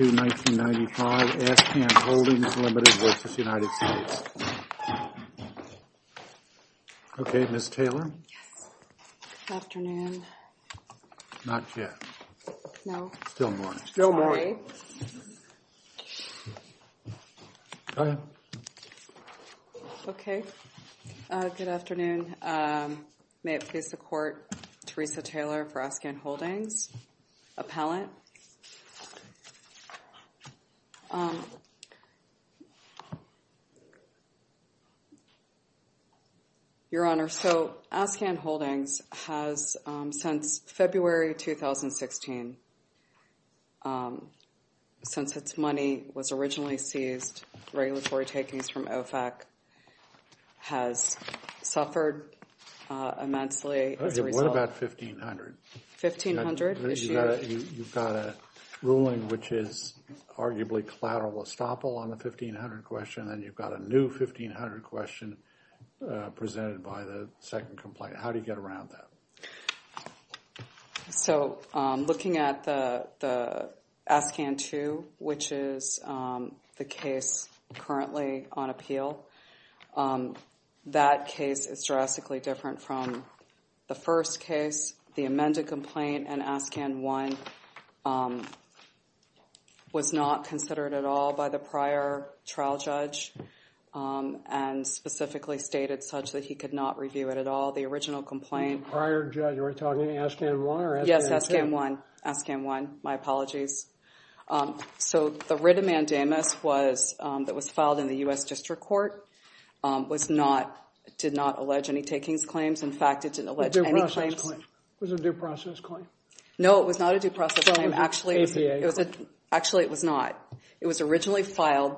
May it please the Court, Teresa Taylor for Askan Holdings, Appellant. Your Honor, so Askan Holdings has since February 2016, since its money was originally seized, regulatory takings from OFAC has suffered immensely as a result. 1500. You've got a ruling which is arguably collateral estoppel on the 1500 question, and you've got a new 1500 question presented by the second complaint. How do you get around that? So looking at the Askan 2, which is the case currently on appeal, that case is drastically different from the first case. The amended complaint in Askan 1 was not considered at all by the prior trial judge and specifically stated such that he could not review it at all. The original complaint... Prior judge, are we talking Askan 1 or Askan 2? Yes, Askan 1. Askan 1. My apologies. So the writ of mandamus that was filed in the U.S. District Court did not allege any takings claims. In fact, it didn't allege any claims. Was it a due process claim? No, it was not a due process claim. Actually, it was not. It was originally filed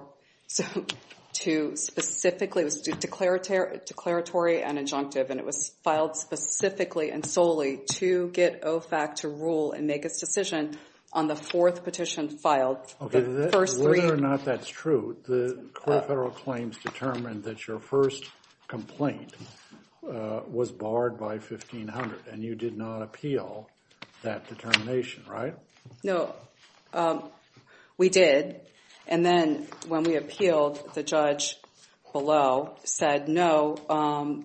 to specifically... It was declaratory and injunctive, and it was filed specifically and solely to get OFAC to rule and make its decision on the fourth petition filed. Okay, whether or not that's true, the court of federal claims determined that your first complaint was barred by 1500, and you did not appeal that determination, right? No, we did. And then when we appealed, the judge below said, no,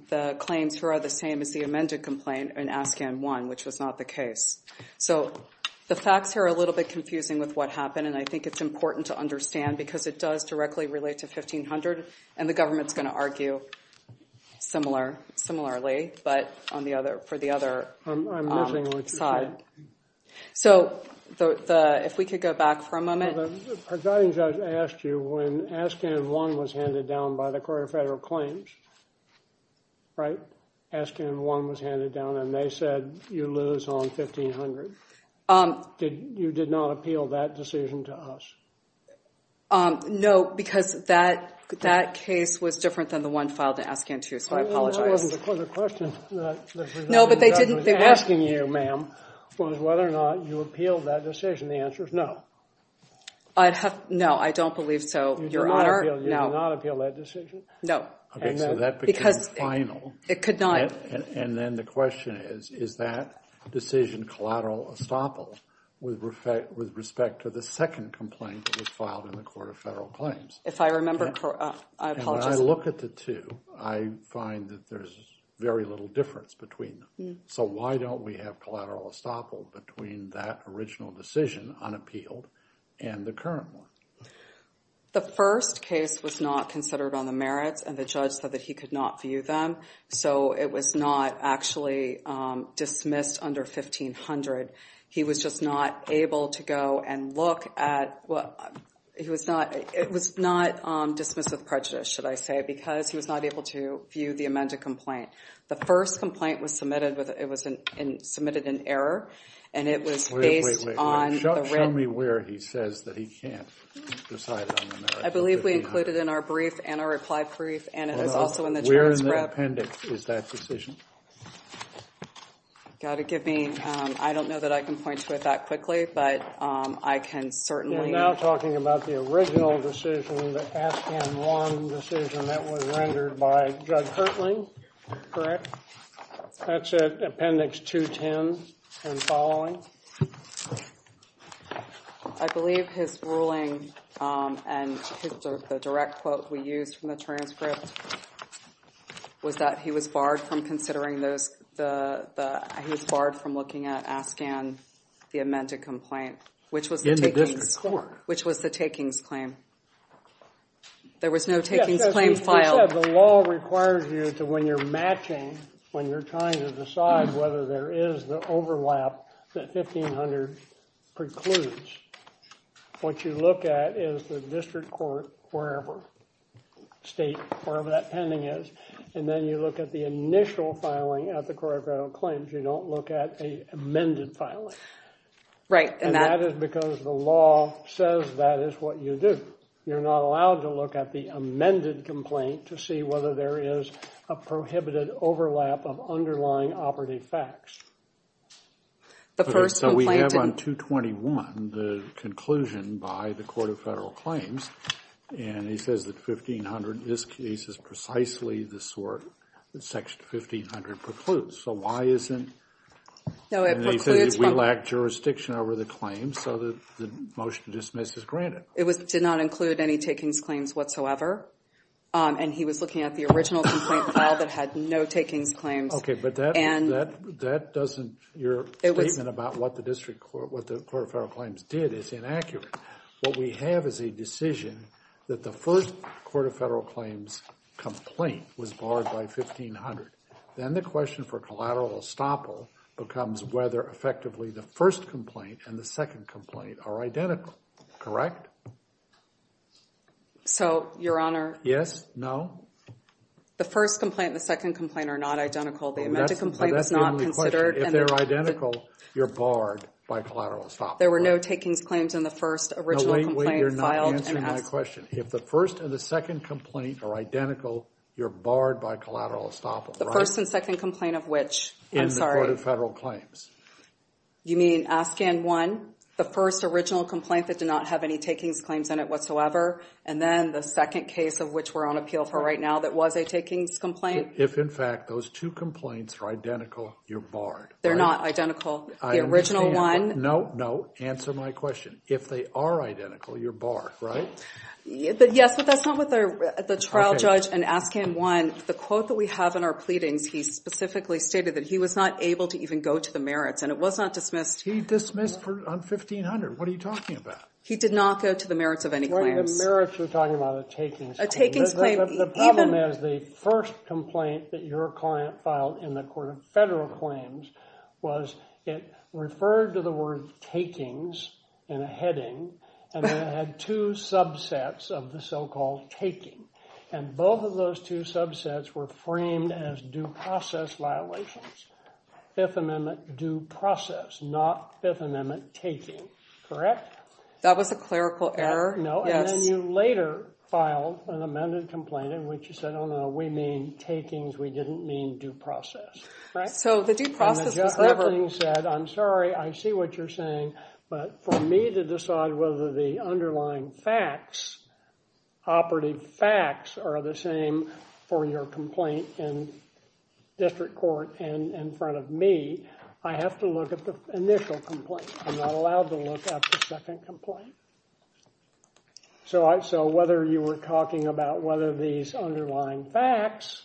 the claims are the same as the amended complaint in Askan 1, which was not the case. So the facts here are a little bit confusing with what happened, and I think it's important to understand because it does directly relate to 1500, and the government's going to argue similarly, but for the other side. So if we could go back for a moment. The presiding judge asked you when Askan 1 was handed down by the court of federal claims, right, Askan 1 was handed down, and they said you lose on 1500. You did not appeal that decision to us? No, because that case was different than the one filed in Askan 2, so I apologize. That wasn't the question. No, but they didn't... The presiding judge was asking you, ma'am, was whether or not you appealed that decision. The answer is no. No, I don't believe so, Your Honor. You did not appeal that decision? No. Okay, so that became final. It could not. And then the question is, is that decision collateral estoppel with respect to the second complaint that was filed in the court of federal claims? If I remember, I apologize. And when I look at the two, I find that there's very little difference between them. So why don't we have collateral estoppel between that original decision unappealed and the current one? The first case was not considered on the merits, and the judge said that he could not view them. So it was not actually dismissed under 1500. He was just not able to go and look at... It was not dismissed with prejudice, should I say, because he was not able to view the amended complaint. The first complaint was submitted with... It was submitted in error, and it was based on... Wait, wait, wait. Show me where he says that he can't. Decided on the merits. I believe we included it in our brief and our reply brief, and it was also in the transcript. Where in the appendix is that decision? Gotta give me... I don't know that I can point to it that quickly, but I can certainly... You're now talking about the original decision, the Aspen 1 decision that was rendered by Judge Hertling, correct? That's at appendix 210 and following. I believe his ruling and the direct quote we used from the transcript was that he was barred from considering those... He was barred from looking at Aspen, the amended complaint, which was... In the district court. Which was the takings claim. There was no takings claim filed. The law requires you to, when you're matching, when you're trying to decide whether there is the overlap that 1500 precludes, what you look at is the district court, wherever, state, wherever that pending is, and then you look at the initial filing at the court of federal claims. You don't look at a amended filing. Right. And that is because the law says that is what you do. You're not allowed to look at the amended complaint to see whether there is a prohibited overlap of underlying operative facts. So we have on 221 the conclusion by the court of federal claims and he says that 1500, this case is precisely the sort that section 1500 precludes. So why isn't... No, it precludes from... We lack jurisdiction over the claim so that the motion to dismiss is granted. It did not include any takings claims whatsoever and he was looking at the original complaint file that had no takings claims. Okay, but that doesn't... Your statement about what the court of federal claims did is inaccurate. What we have is a decision that the first court of federal claims complaint was barred by 1500. Then the question for collateral estoppel becomes whether effectively the first complaint and the second complaint are identical, correct? So, your honor... Yes, no. The first complaint and the second complaint are not identical. The amended complaint is not considered... But that's the only question. If they're identical, you're barred by collateral estoppel. There were no takings claims in the first original complaint filed and... No, wait, wait, you're not answering my question. If the first and the second complaint are identical, you're barred by collateral estoppel, right? The first and second complaint of which, I'm sorry... In the court of federal claims. You mean, ask and one, the first original complaint that did not have any takings claims, claims in it whatsoever. And then the second case of which we're on appeal for right now that was a takings complaint. If in fact those two complaints are identical, you're barred. They're not identical. The original one... No, no. Answer my question. If they are identical, you're barred, right? But yes, but that's not what the trial judge in ask and one, the quote that we have in our pleadings, he specifically stated that he was not able to even go to the merits and it was not dismissed. He dismissed on 1500. What are you talking about? He did not go to the merits of any claims. The merits, you're talking about a takings claim. A takings claim, even... The problem is the first complaint that your client filed in the court of federal claims was it referred to the word takings in a heading and it had two subsets of the so-called taking. And both of those two subsets were framed as due process violations. Fifth Amendment due process, not Fifth Amendment taking, correct? That was a clerical error. No, and then you later filed an amended complaint in which you said, oh no, we mean takings. We didn't mean due process, right? So the due process was never... I'm sorry. I see what you're saying. But for me to decide whether the underlying facts, operative facts, are the same for your complaint in district court and in front of me, I have to look at the initial complaint. I'm not allowed to look at the second complaint. So whether you were talking about whether these underlying facts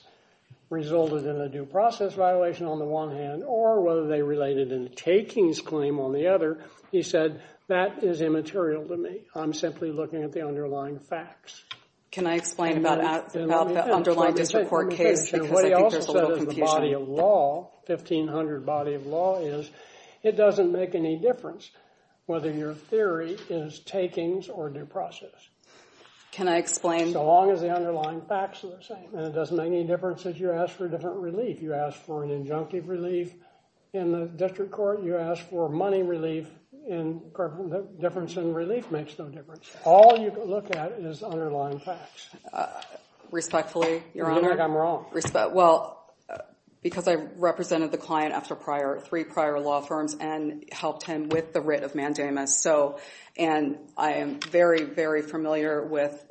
resulted in a due process violation on the one hand, or whether they related in a takings claim on the other, you said that is immaterial to me. I'm simply looking at the underlying facts. Can I explain about the underlying district court case? Because I think there's a little confusion. What he also said is the body of law, 1500 body of law, it doesn't make any difference whether your theory is takings or due process. Can I explain? So long as the underlying facts are the same. And it doesn't make any difference if you ask for a different relief. You ask for an injunctive relief in the district court. You ask for money relief. And the difference in relief makes no difference. All you can look at is underlying facts. Respectfully, Your Honor. You think I'm wrong. Well, because I represented the client after three prior law firms and helped him with the writ of mandamus. And I am very, very familiar with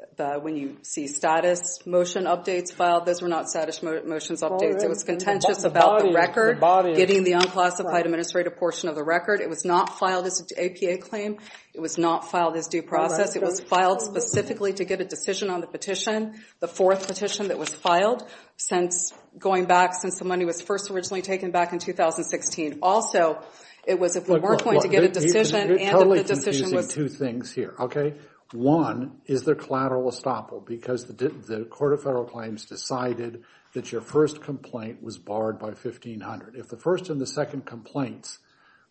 when you see status motion updates filed. Those were not status motions updates. It was contentious about the record, getting the unclassified administrative portion of the record. It was not filed as an APA claim. It was not filed as due process. It was filed specifically to get a decision on the petition. It was filed going back since the money was first originally taken back in 2016. Also, it was if we weren't going to get a decision. You're totally confusing two things here, OK? One is the collateral estoppel. Because the Court of Federal Claims decided that your first complaint was barred by 1500. If the first and the second complaints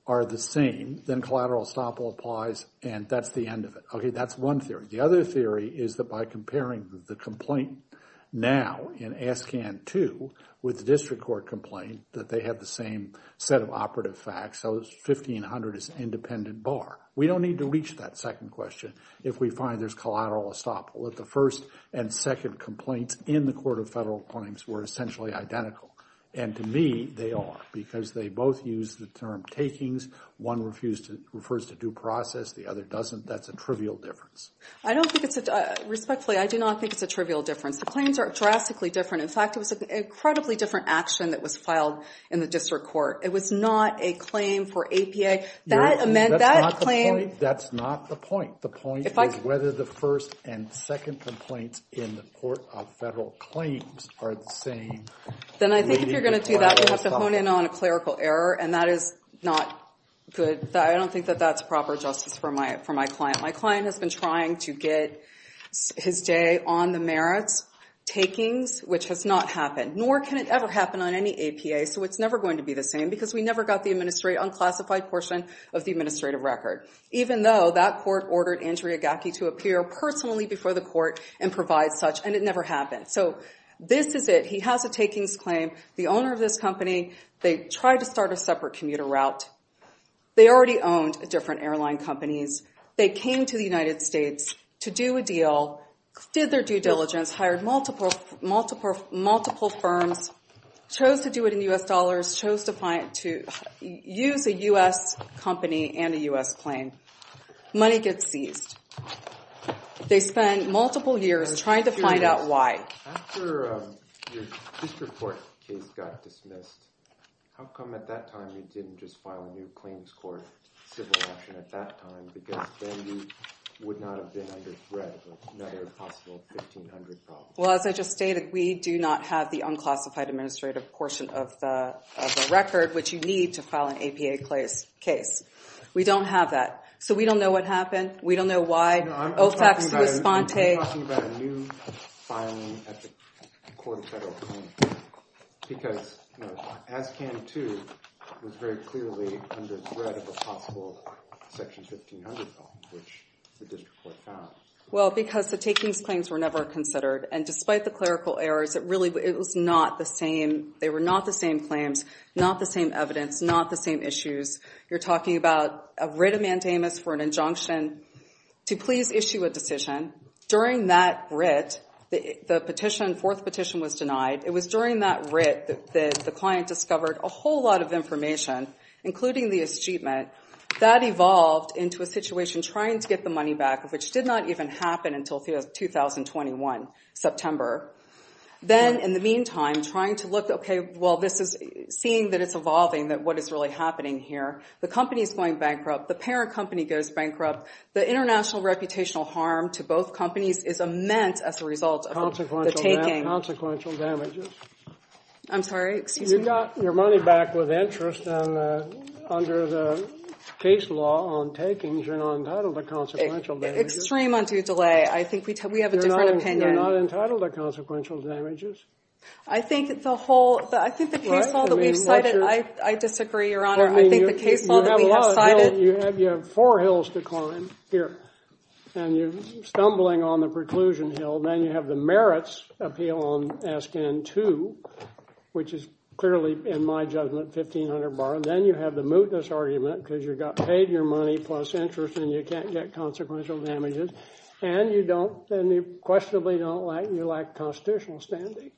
are the same, then collateral estoppel applies. And that's the end of it. OK, that's one theory. The other theory is that by comparing the complaint now in ASCAN 2 with the district court complaint, that they have the same set of operative facts. So 1500 is independent bar. We don't need to reach that second question if we find there's collateral estoppel. If the first and second complaints in the Court of Federal Claims were essentially identical. And to me, they are. Because they both use the term takings. One refers to due process. The other doesn't. That's a trivial difference. Respectfully, I do not think it's a trivial difference. The claims are drastically different. In fact, it was an incredibly different action that was filed in the district court. It was not a claim for APA. That's not the point. The point is whether the first and second complaints in the Court of Federal Claims are the same. Then I think if you're going to do that, you have to hone in on a clerical error. And that is not good. I don't think that that's proper justice for my client. My client has been trying to get his day on the merits. Takings, which has not happened. Nor can it ever happen on any APA. So it's never going to be the same. Because we never got the unclassified portion of the administrative record. Even though that court ordered Andrea Gackey to appear personally before the court and provide such. And it never happened. So this is it. He has a takings claim. The owner of this company, they tried to start a separate commuter route. They already owned different airline companies. They came to the United States to do a deal. Did their due diligence. Hired multiple firms. Chose to do it in US dollars. Chose to use a US company and a US plane. Money gets seized. They spend multiple years trying to find out why. After your district court case got dismissed, how come at that time you didn't just file a new claims court civil action at that time? Because then you would not have been under threat of another possible 1,500 problems. Well, as I just stated, we do not have the unclassified administrative portion of the record, which you need to file an APA case. We don't have that. So we don't know what happened. We don't know why. I'm talking about a new filing at the Court of Federal Claims, because ASCAN 2 was very clearly under threat of a possible section 1,500 problem, which the district court found. Well, because the takings claims were never considered. And despite the clerical errors, it really was not the same. They were not the same claims. Not the same evidence. Not the same issues. You're talking about a writ of mandamus for an injunction to please issue a decision. During that writ, the petition, fourth petition, was denied. It was during that writ that the client discovered a whole lot of information, including the achievement. That evolved into a situation trying to get the money back, which did not even happen until 2021, September. Then in the meantime, trying to look, OK, well, this is seeing that it's evolving, that it's really happening here. The company's going bankrupt. The parent company goes bankrupt. The international reputational harm to both companies is immense as a result of the taking. Consequential damages. I'm sorry. Excuse me. You got your money back with interest, and under the case law on takings, you're not entitled to consequential damages. Extreme undue delay. I think we have a different opinion. You're not entitled to consequential damages. I think the whole, I think the case law that we've cited, I disagree, Your Honor. I think the case law that we have cited. You have four hills to climb here. And you're stumbling on the preclusion hill. Then you have the merits appeal on SKN 2, which is clearly, in my judgment, 1500 bar. Then you have the mootness argument, because you got paid your money plus interest, and you can't get consequential damages. And you don't, and you questionably don't like, you lack constitutional standing.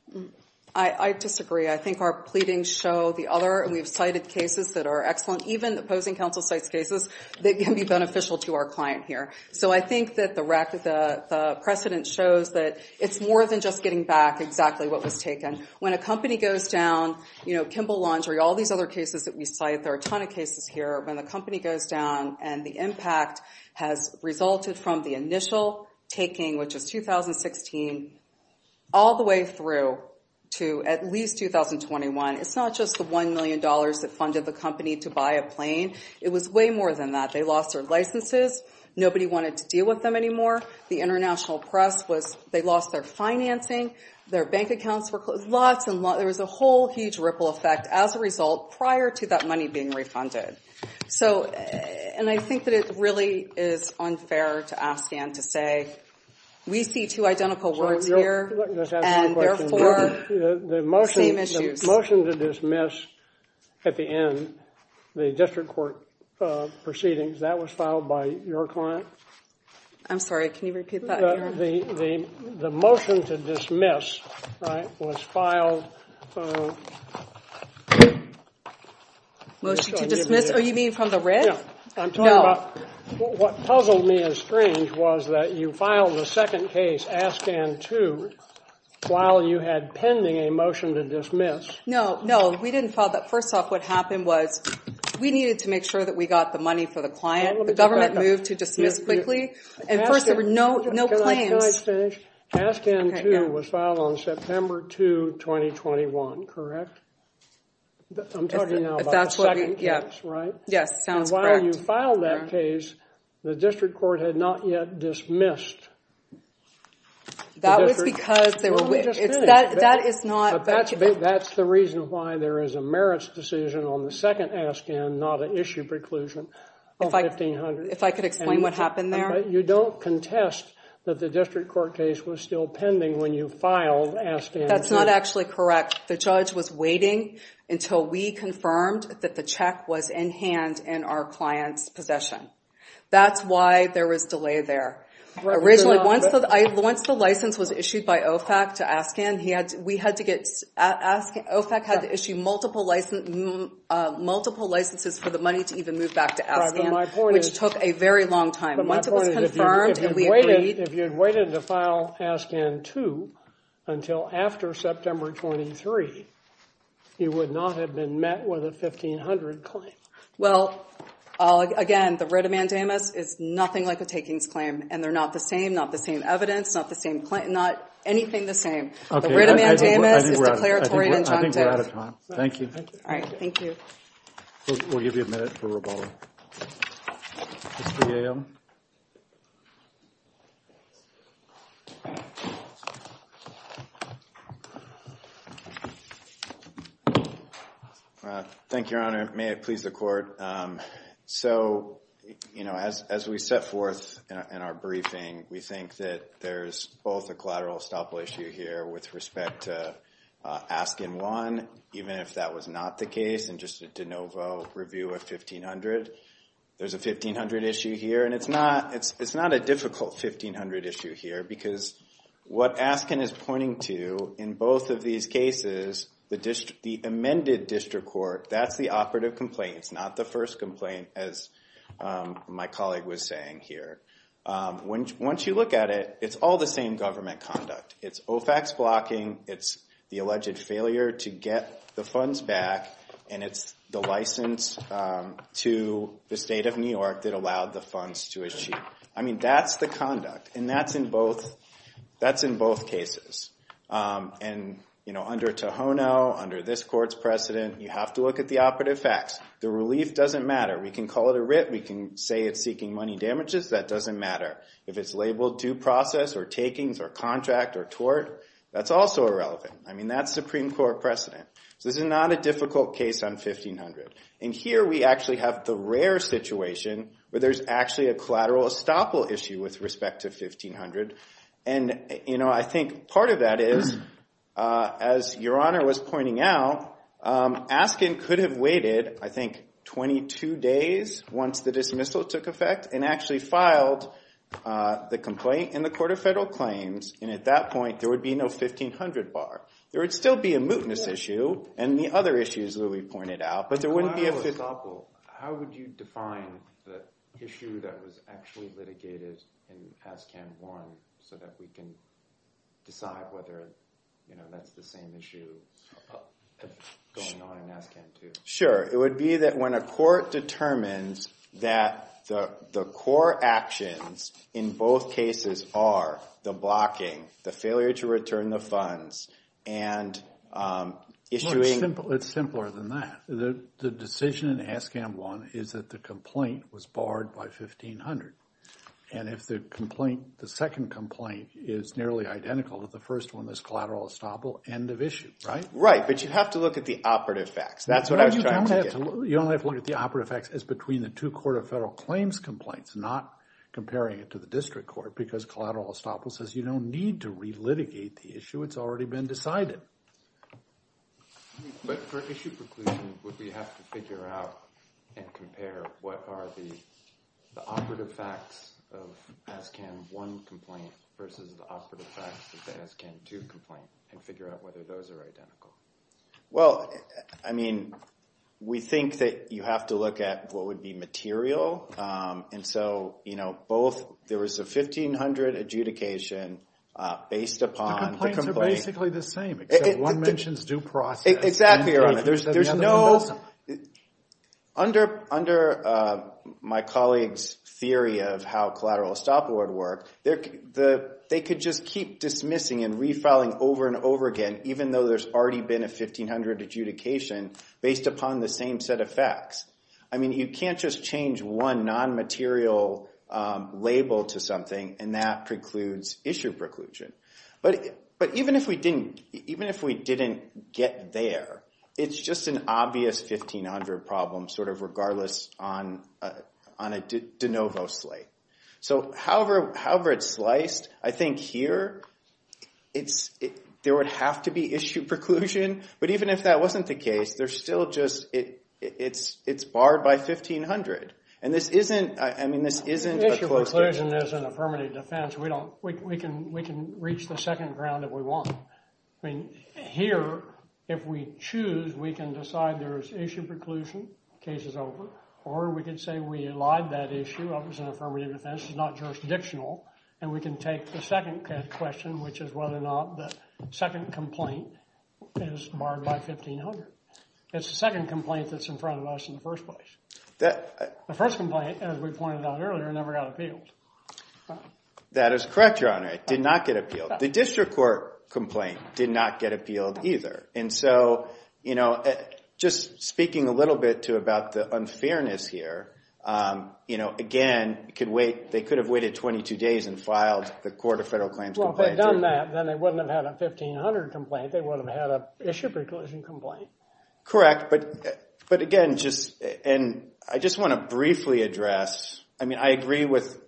I disagree. I think our pleadings show the other, and we've cited cases that are excellent. Even the opposing counsel cites cases that can be beneficial to our client here. So I think that the precedent shows that it's more than just getting back exactly what was taken. When a company goes down, you know, Kimball Laundry, all these other cases that we cite, there are a ton of cases here. When the company goes down and the impact has resulted from the initial taking, which was 2016, all the way through to at least 2021, it's not just the $1 million that funded the company to buy a plane. It was way more than that. They lost their licenses. Nobody wanted to deal with them anymore. The international press was, they lost their financing. Their bank accounts were closed. Lots and lots, there was a whole huge ripple effect as a result prior to that money being refunded. So, and I think that it really is unfair to ask Dan to say, we see two identical worlds here, and therefore, same issues. The motion to dismiss at the end, the district court proceedings, that was filed by your client? I'm sorry, can you repeat that? The motion to dismiss, right, was filed... To dismiss, oh, you mean from the wrist? Yeah, I'm talking about, what puzzled me as strange was that you filed the second case, Askan 2, while you had pending a motion to dismiss. No, no, we didn't file that. First off, what happened was, we needed to make sure that we got the money for the client. The government moved to dismiss quickly, and first, there were no claims. Can I finish? Askan 2 was filed on September 2, 2021, correct? I'm talking now about the second case, right? Yes, sounds correct. And while you filed that case, the district court had not yet dismissed. That was because there were... Let me just finish. That is not... But that's the reason why there is a merits decision on the second Askan, not an issue preclusion of $1,500. If I could explain what happened there? You don't contest that the district court case was still pending when you filed Askan 2. That's not actually correct. The judge was waiting until we confirmed that the check was in hand in our client's possession. That's why there was delay there. Originally, once the license was issued by OFAC to Askan, we had to get... OFAC had to issue multiple licenses for the money to even move back to Askan, which took a very long time. But if you had waited to file Askan 2 until after September 23, you would not have been met with a $1,500 claim. Well, again, the writ amandamus is nothing like a takings claim, and they're not the same, not the same evidence, not the same claim, not anything the same. The writ amandamus is declaratory and injunctive. I think we're out of time. Thank you. All right. Thank you. We'll give you a minute for rebuttal. It's 3 a.m. All right. Thank you, Your Honor. May it please the Court. So, you know, as we set forth in our briefing, we think that there's both a collateral estoppel issue here with respect to Askan 1, even if that was not the case, and just a de novo review of 1500. There's a 1500 issue here. And it's not a difficult 1500 issue here, because what Askan is pointing to in both of these cases, the amended district court, that's the operative complaint. It's not the first complaint, as my colleague was saying here. Once you look at it, it's all the same government conduct. It's OFAC's blocking. It's the alleged failure to get the funds back. And it's the license to the state of New York that allowed the funds to achieve. I mean, that's the conduct. And that's in both cases. And, you know, under Tohono, under this court's precedent, you have to look at the operative facts. The relief doesn't matter. We can call it a writ. We can say it's seeking money damages. That doesn't matter. If it's labeled due process or takings or contract or tort, that's also irrelevant. I mean, that's Supreme Court precedent. So this is not a difficult case on 1500. And here we actually have the rare situation where there's actually a collateral estoppel issue with respect to 1500. And, you know, I think part of that is, as Your Honor was pointing out, Askan could have waited, I think, 22 days once the dismissal took effect and actually filed the complaint in the Court of Federal Claims. And at that point, there would be no 1500 bar. There would still be a mootness issue and the other issues that we pointed out, but there wouldn't be a fifth. If collateral estoppel, how would you define the issue that was actually litigated in Askan 1 so that we can decide whether, you know, that's the same issue going on in Askan 2? Sure. It would be that when a court determines that the core actions in both cases are the blocking, the failure to return the funds, and issuing... Well, it's simpler than that. The decision in Askan 1 is that the complaint was barred by 1500. And if the complaint, the second complaint is nearly identical to the first one, this collateral estoppel, end of issue, right? Right. But you have to look at the operative facts. That's what I was trying to get at. You only have to look at the operative facts as between the two Court of Federal Claims complaints, not comparing it to the district court, because collateral estoppel says you don't need to relitigate the issue. It's already been decided. But for issue preclusion, would we have to figure out and compare what are the operative facts of Askan 1 complaint versus the operative facts of the Askan 2 complaint and figure out whether those are identical? Well, I mean, we think that you have to look at what would be material. And so, you know, both, there was a 1500 adjudication based upon the complaint. The complaints are basically the same, except one mentions due process. Exactly. Under my colleague's theory of how collateral estoppel would work, they could just keep dismissing and refiling over and over again, even though there's already been a 1500 adjudication based upon the same set of facts. I mean, you can't just change one non-material label to something, and that precludes issue preclusion. But even if we didn't get there, it's just an obvious 1500 problem, sort of regardless on a de novo slate. So however it's sliced, I think here, there would have to be issue preclusion. But even if that wasn't the case, there's still just, it's barred by 1500. And this isn't, I mean, this isn't a closed case. Issue preclusion is an affirmative defense. We don't, we can reach the second ground if we want. I mean, here, if we choose, we can decide there is issue preclusion, case is over. Or we could say we allied that issue up as an affirmative defense, it's not jurisdictional. And we can take the second question, which is whether or not the second complaint is barred by 1500. It's the second complaint that's in front of us in the first place. The first complaint, as we pointed out earlier, never got appealed. That is correct, Your Honor. It did not get appealed. The district court complaint did not get appealed either. And so, you know, just speaking a little bit to about the unfairness here, you know, again, it could wait, they could have waited 22 days and filed the Court of Federal Claims complaint. Well, if they'd done that, then they wouldn't have had a 1500 complaint. They wouldn't have had an issue preclusion complaint. Correct. But again, just, and I just want to briefly address, I mean, I agree with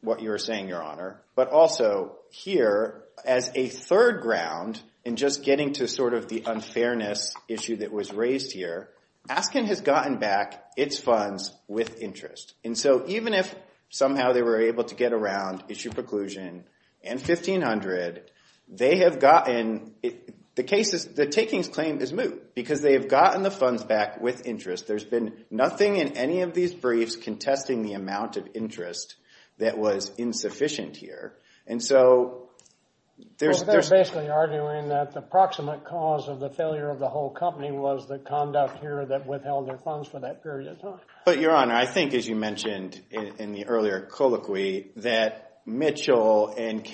what you're saying, Your Honor. But also here, as a third ground, and just getting to sort of the unfairness issue that was raised here, Aspen has gotten back its funds with interest. And so even if somehow they were able to get around issue preclusion and 1500, they have gotten, the case is, the takings claim is moot because they have gotten the funds back with interest. There's been nothing in any of these briefs contesting the amount of interest that was insufficient here. And so there's... They're basically arguing that the proximate cause of the failure of the whole company was the conduct here that withheld their funds for that period of time. But Your Honor, I think, as you mentioned in the earlier colloquy, that Mitchell and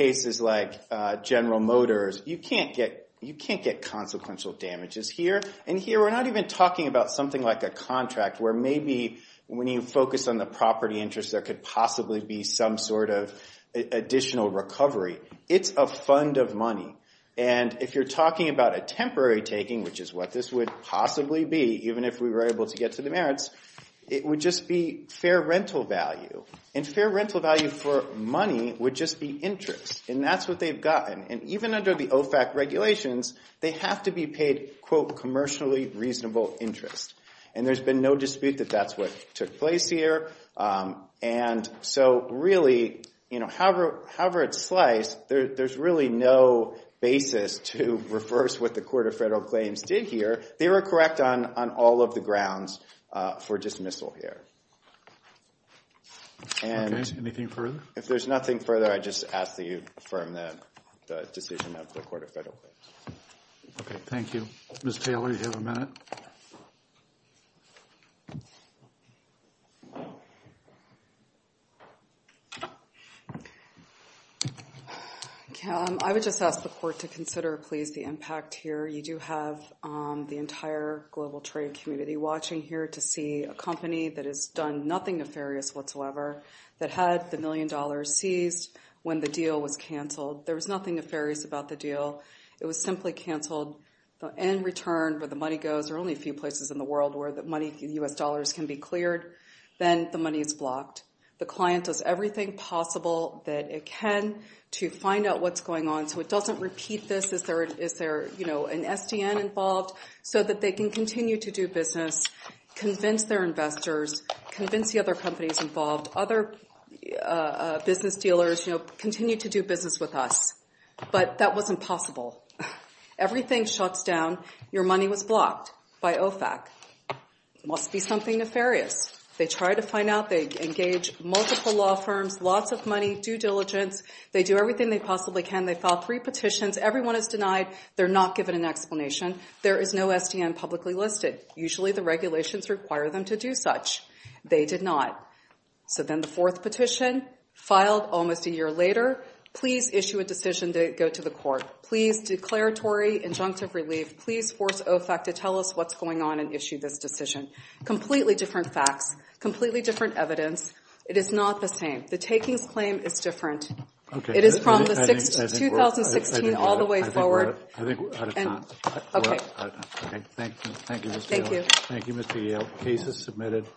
you can't get consequential damages here. And here we're not even talking about something like a contract where maybe when you focus on the property interest, there could possibly be some sort of additional recovery. It's a fund of money. And if you're talking about a temporary taking, which is what this would possibly be, even if we were able to get to the merits, it would just be fair rental value. And fair rental value for money would just be interest. And that's what they've gotten. And even under the OFAC regulations, they have to be paid, quote, commercially reasonable interest. And there's been no dispute that that's what took place here. And so really, you know, however it's sliced, there's really no basis to reverse what the Court of Federal Claims did here. They were correct on all of the grounds for dismissal here. And... Okay. Anything further? If there's nothing further, I just ask that you affirm the decision of the Court of Federal Claims. Okay. Thank you. Ms. Taylor, you have a minute. I would just ask the Court to consider, please, the impact here. You do have the entire global trade community watching here to see a company that has done nothing nefarious whatsoever, that had the million dollars seized when the deal was canceled. There was nothing nefarious about the deal. It was simply canceled. In return, where the money goes, there are only a few places in the world where the money, U.S. dollars can be cleared. Then the money is blocked. The client does everything possible that it can to find out what's going on so it doesn't repeat this. Is there, you know, an SDN involved so that they can continue to do business, convince their investors, convince the other companies involved, other business dealers, you know, continue to do business with us? But that wasn't possible. Everything shuts down. Your money was blocked by OFAC. It must be something nefarious. They try to find out. They engage multiple law firms, lots of money, due diligence. They do everything they possibly can. They file three petitions. Everyone is denied. They're not given an explanation. There is no SDN publicly listed. Usually the regulations require them to do such. They did not. So then the fourth petition, filed almost a year later, please issue a decision to go to the court. Please, declaratory injunctive relief, please force OFAC to tell us what's going on and issue this decision. Completely different facts. Completely different evidence. It is not the same. The takings claim is different. It is from the 2016 all the way forward. I think we're out of time. Okay. Thank you. Thank you, Mr. Yale. Thank you, Mr. Yale. Case is submitted.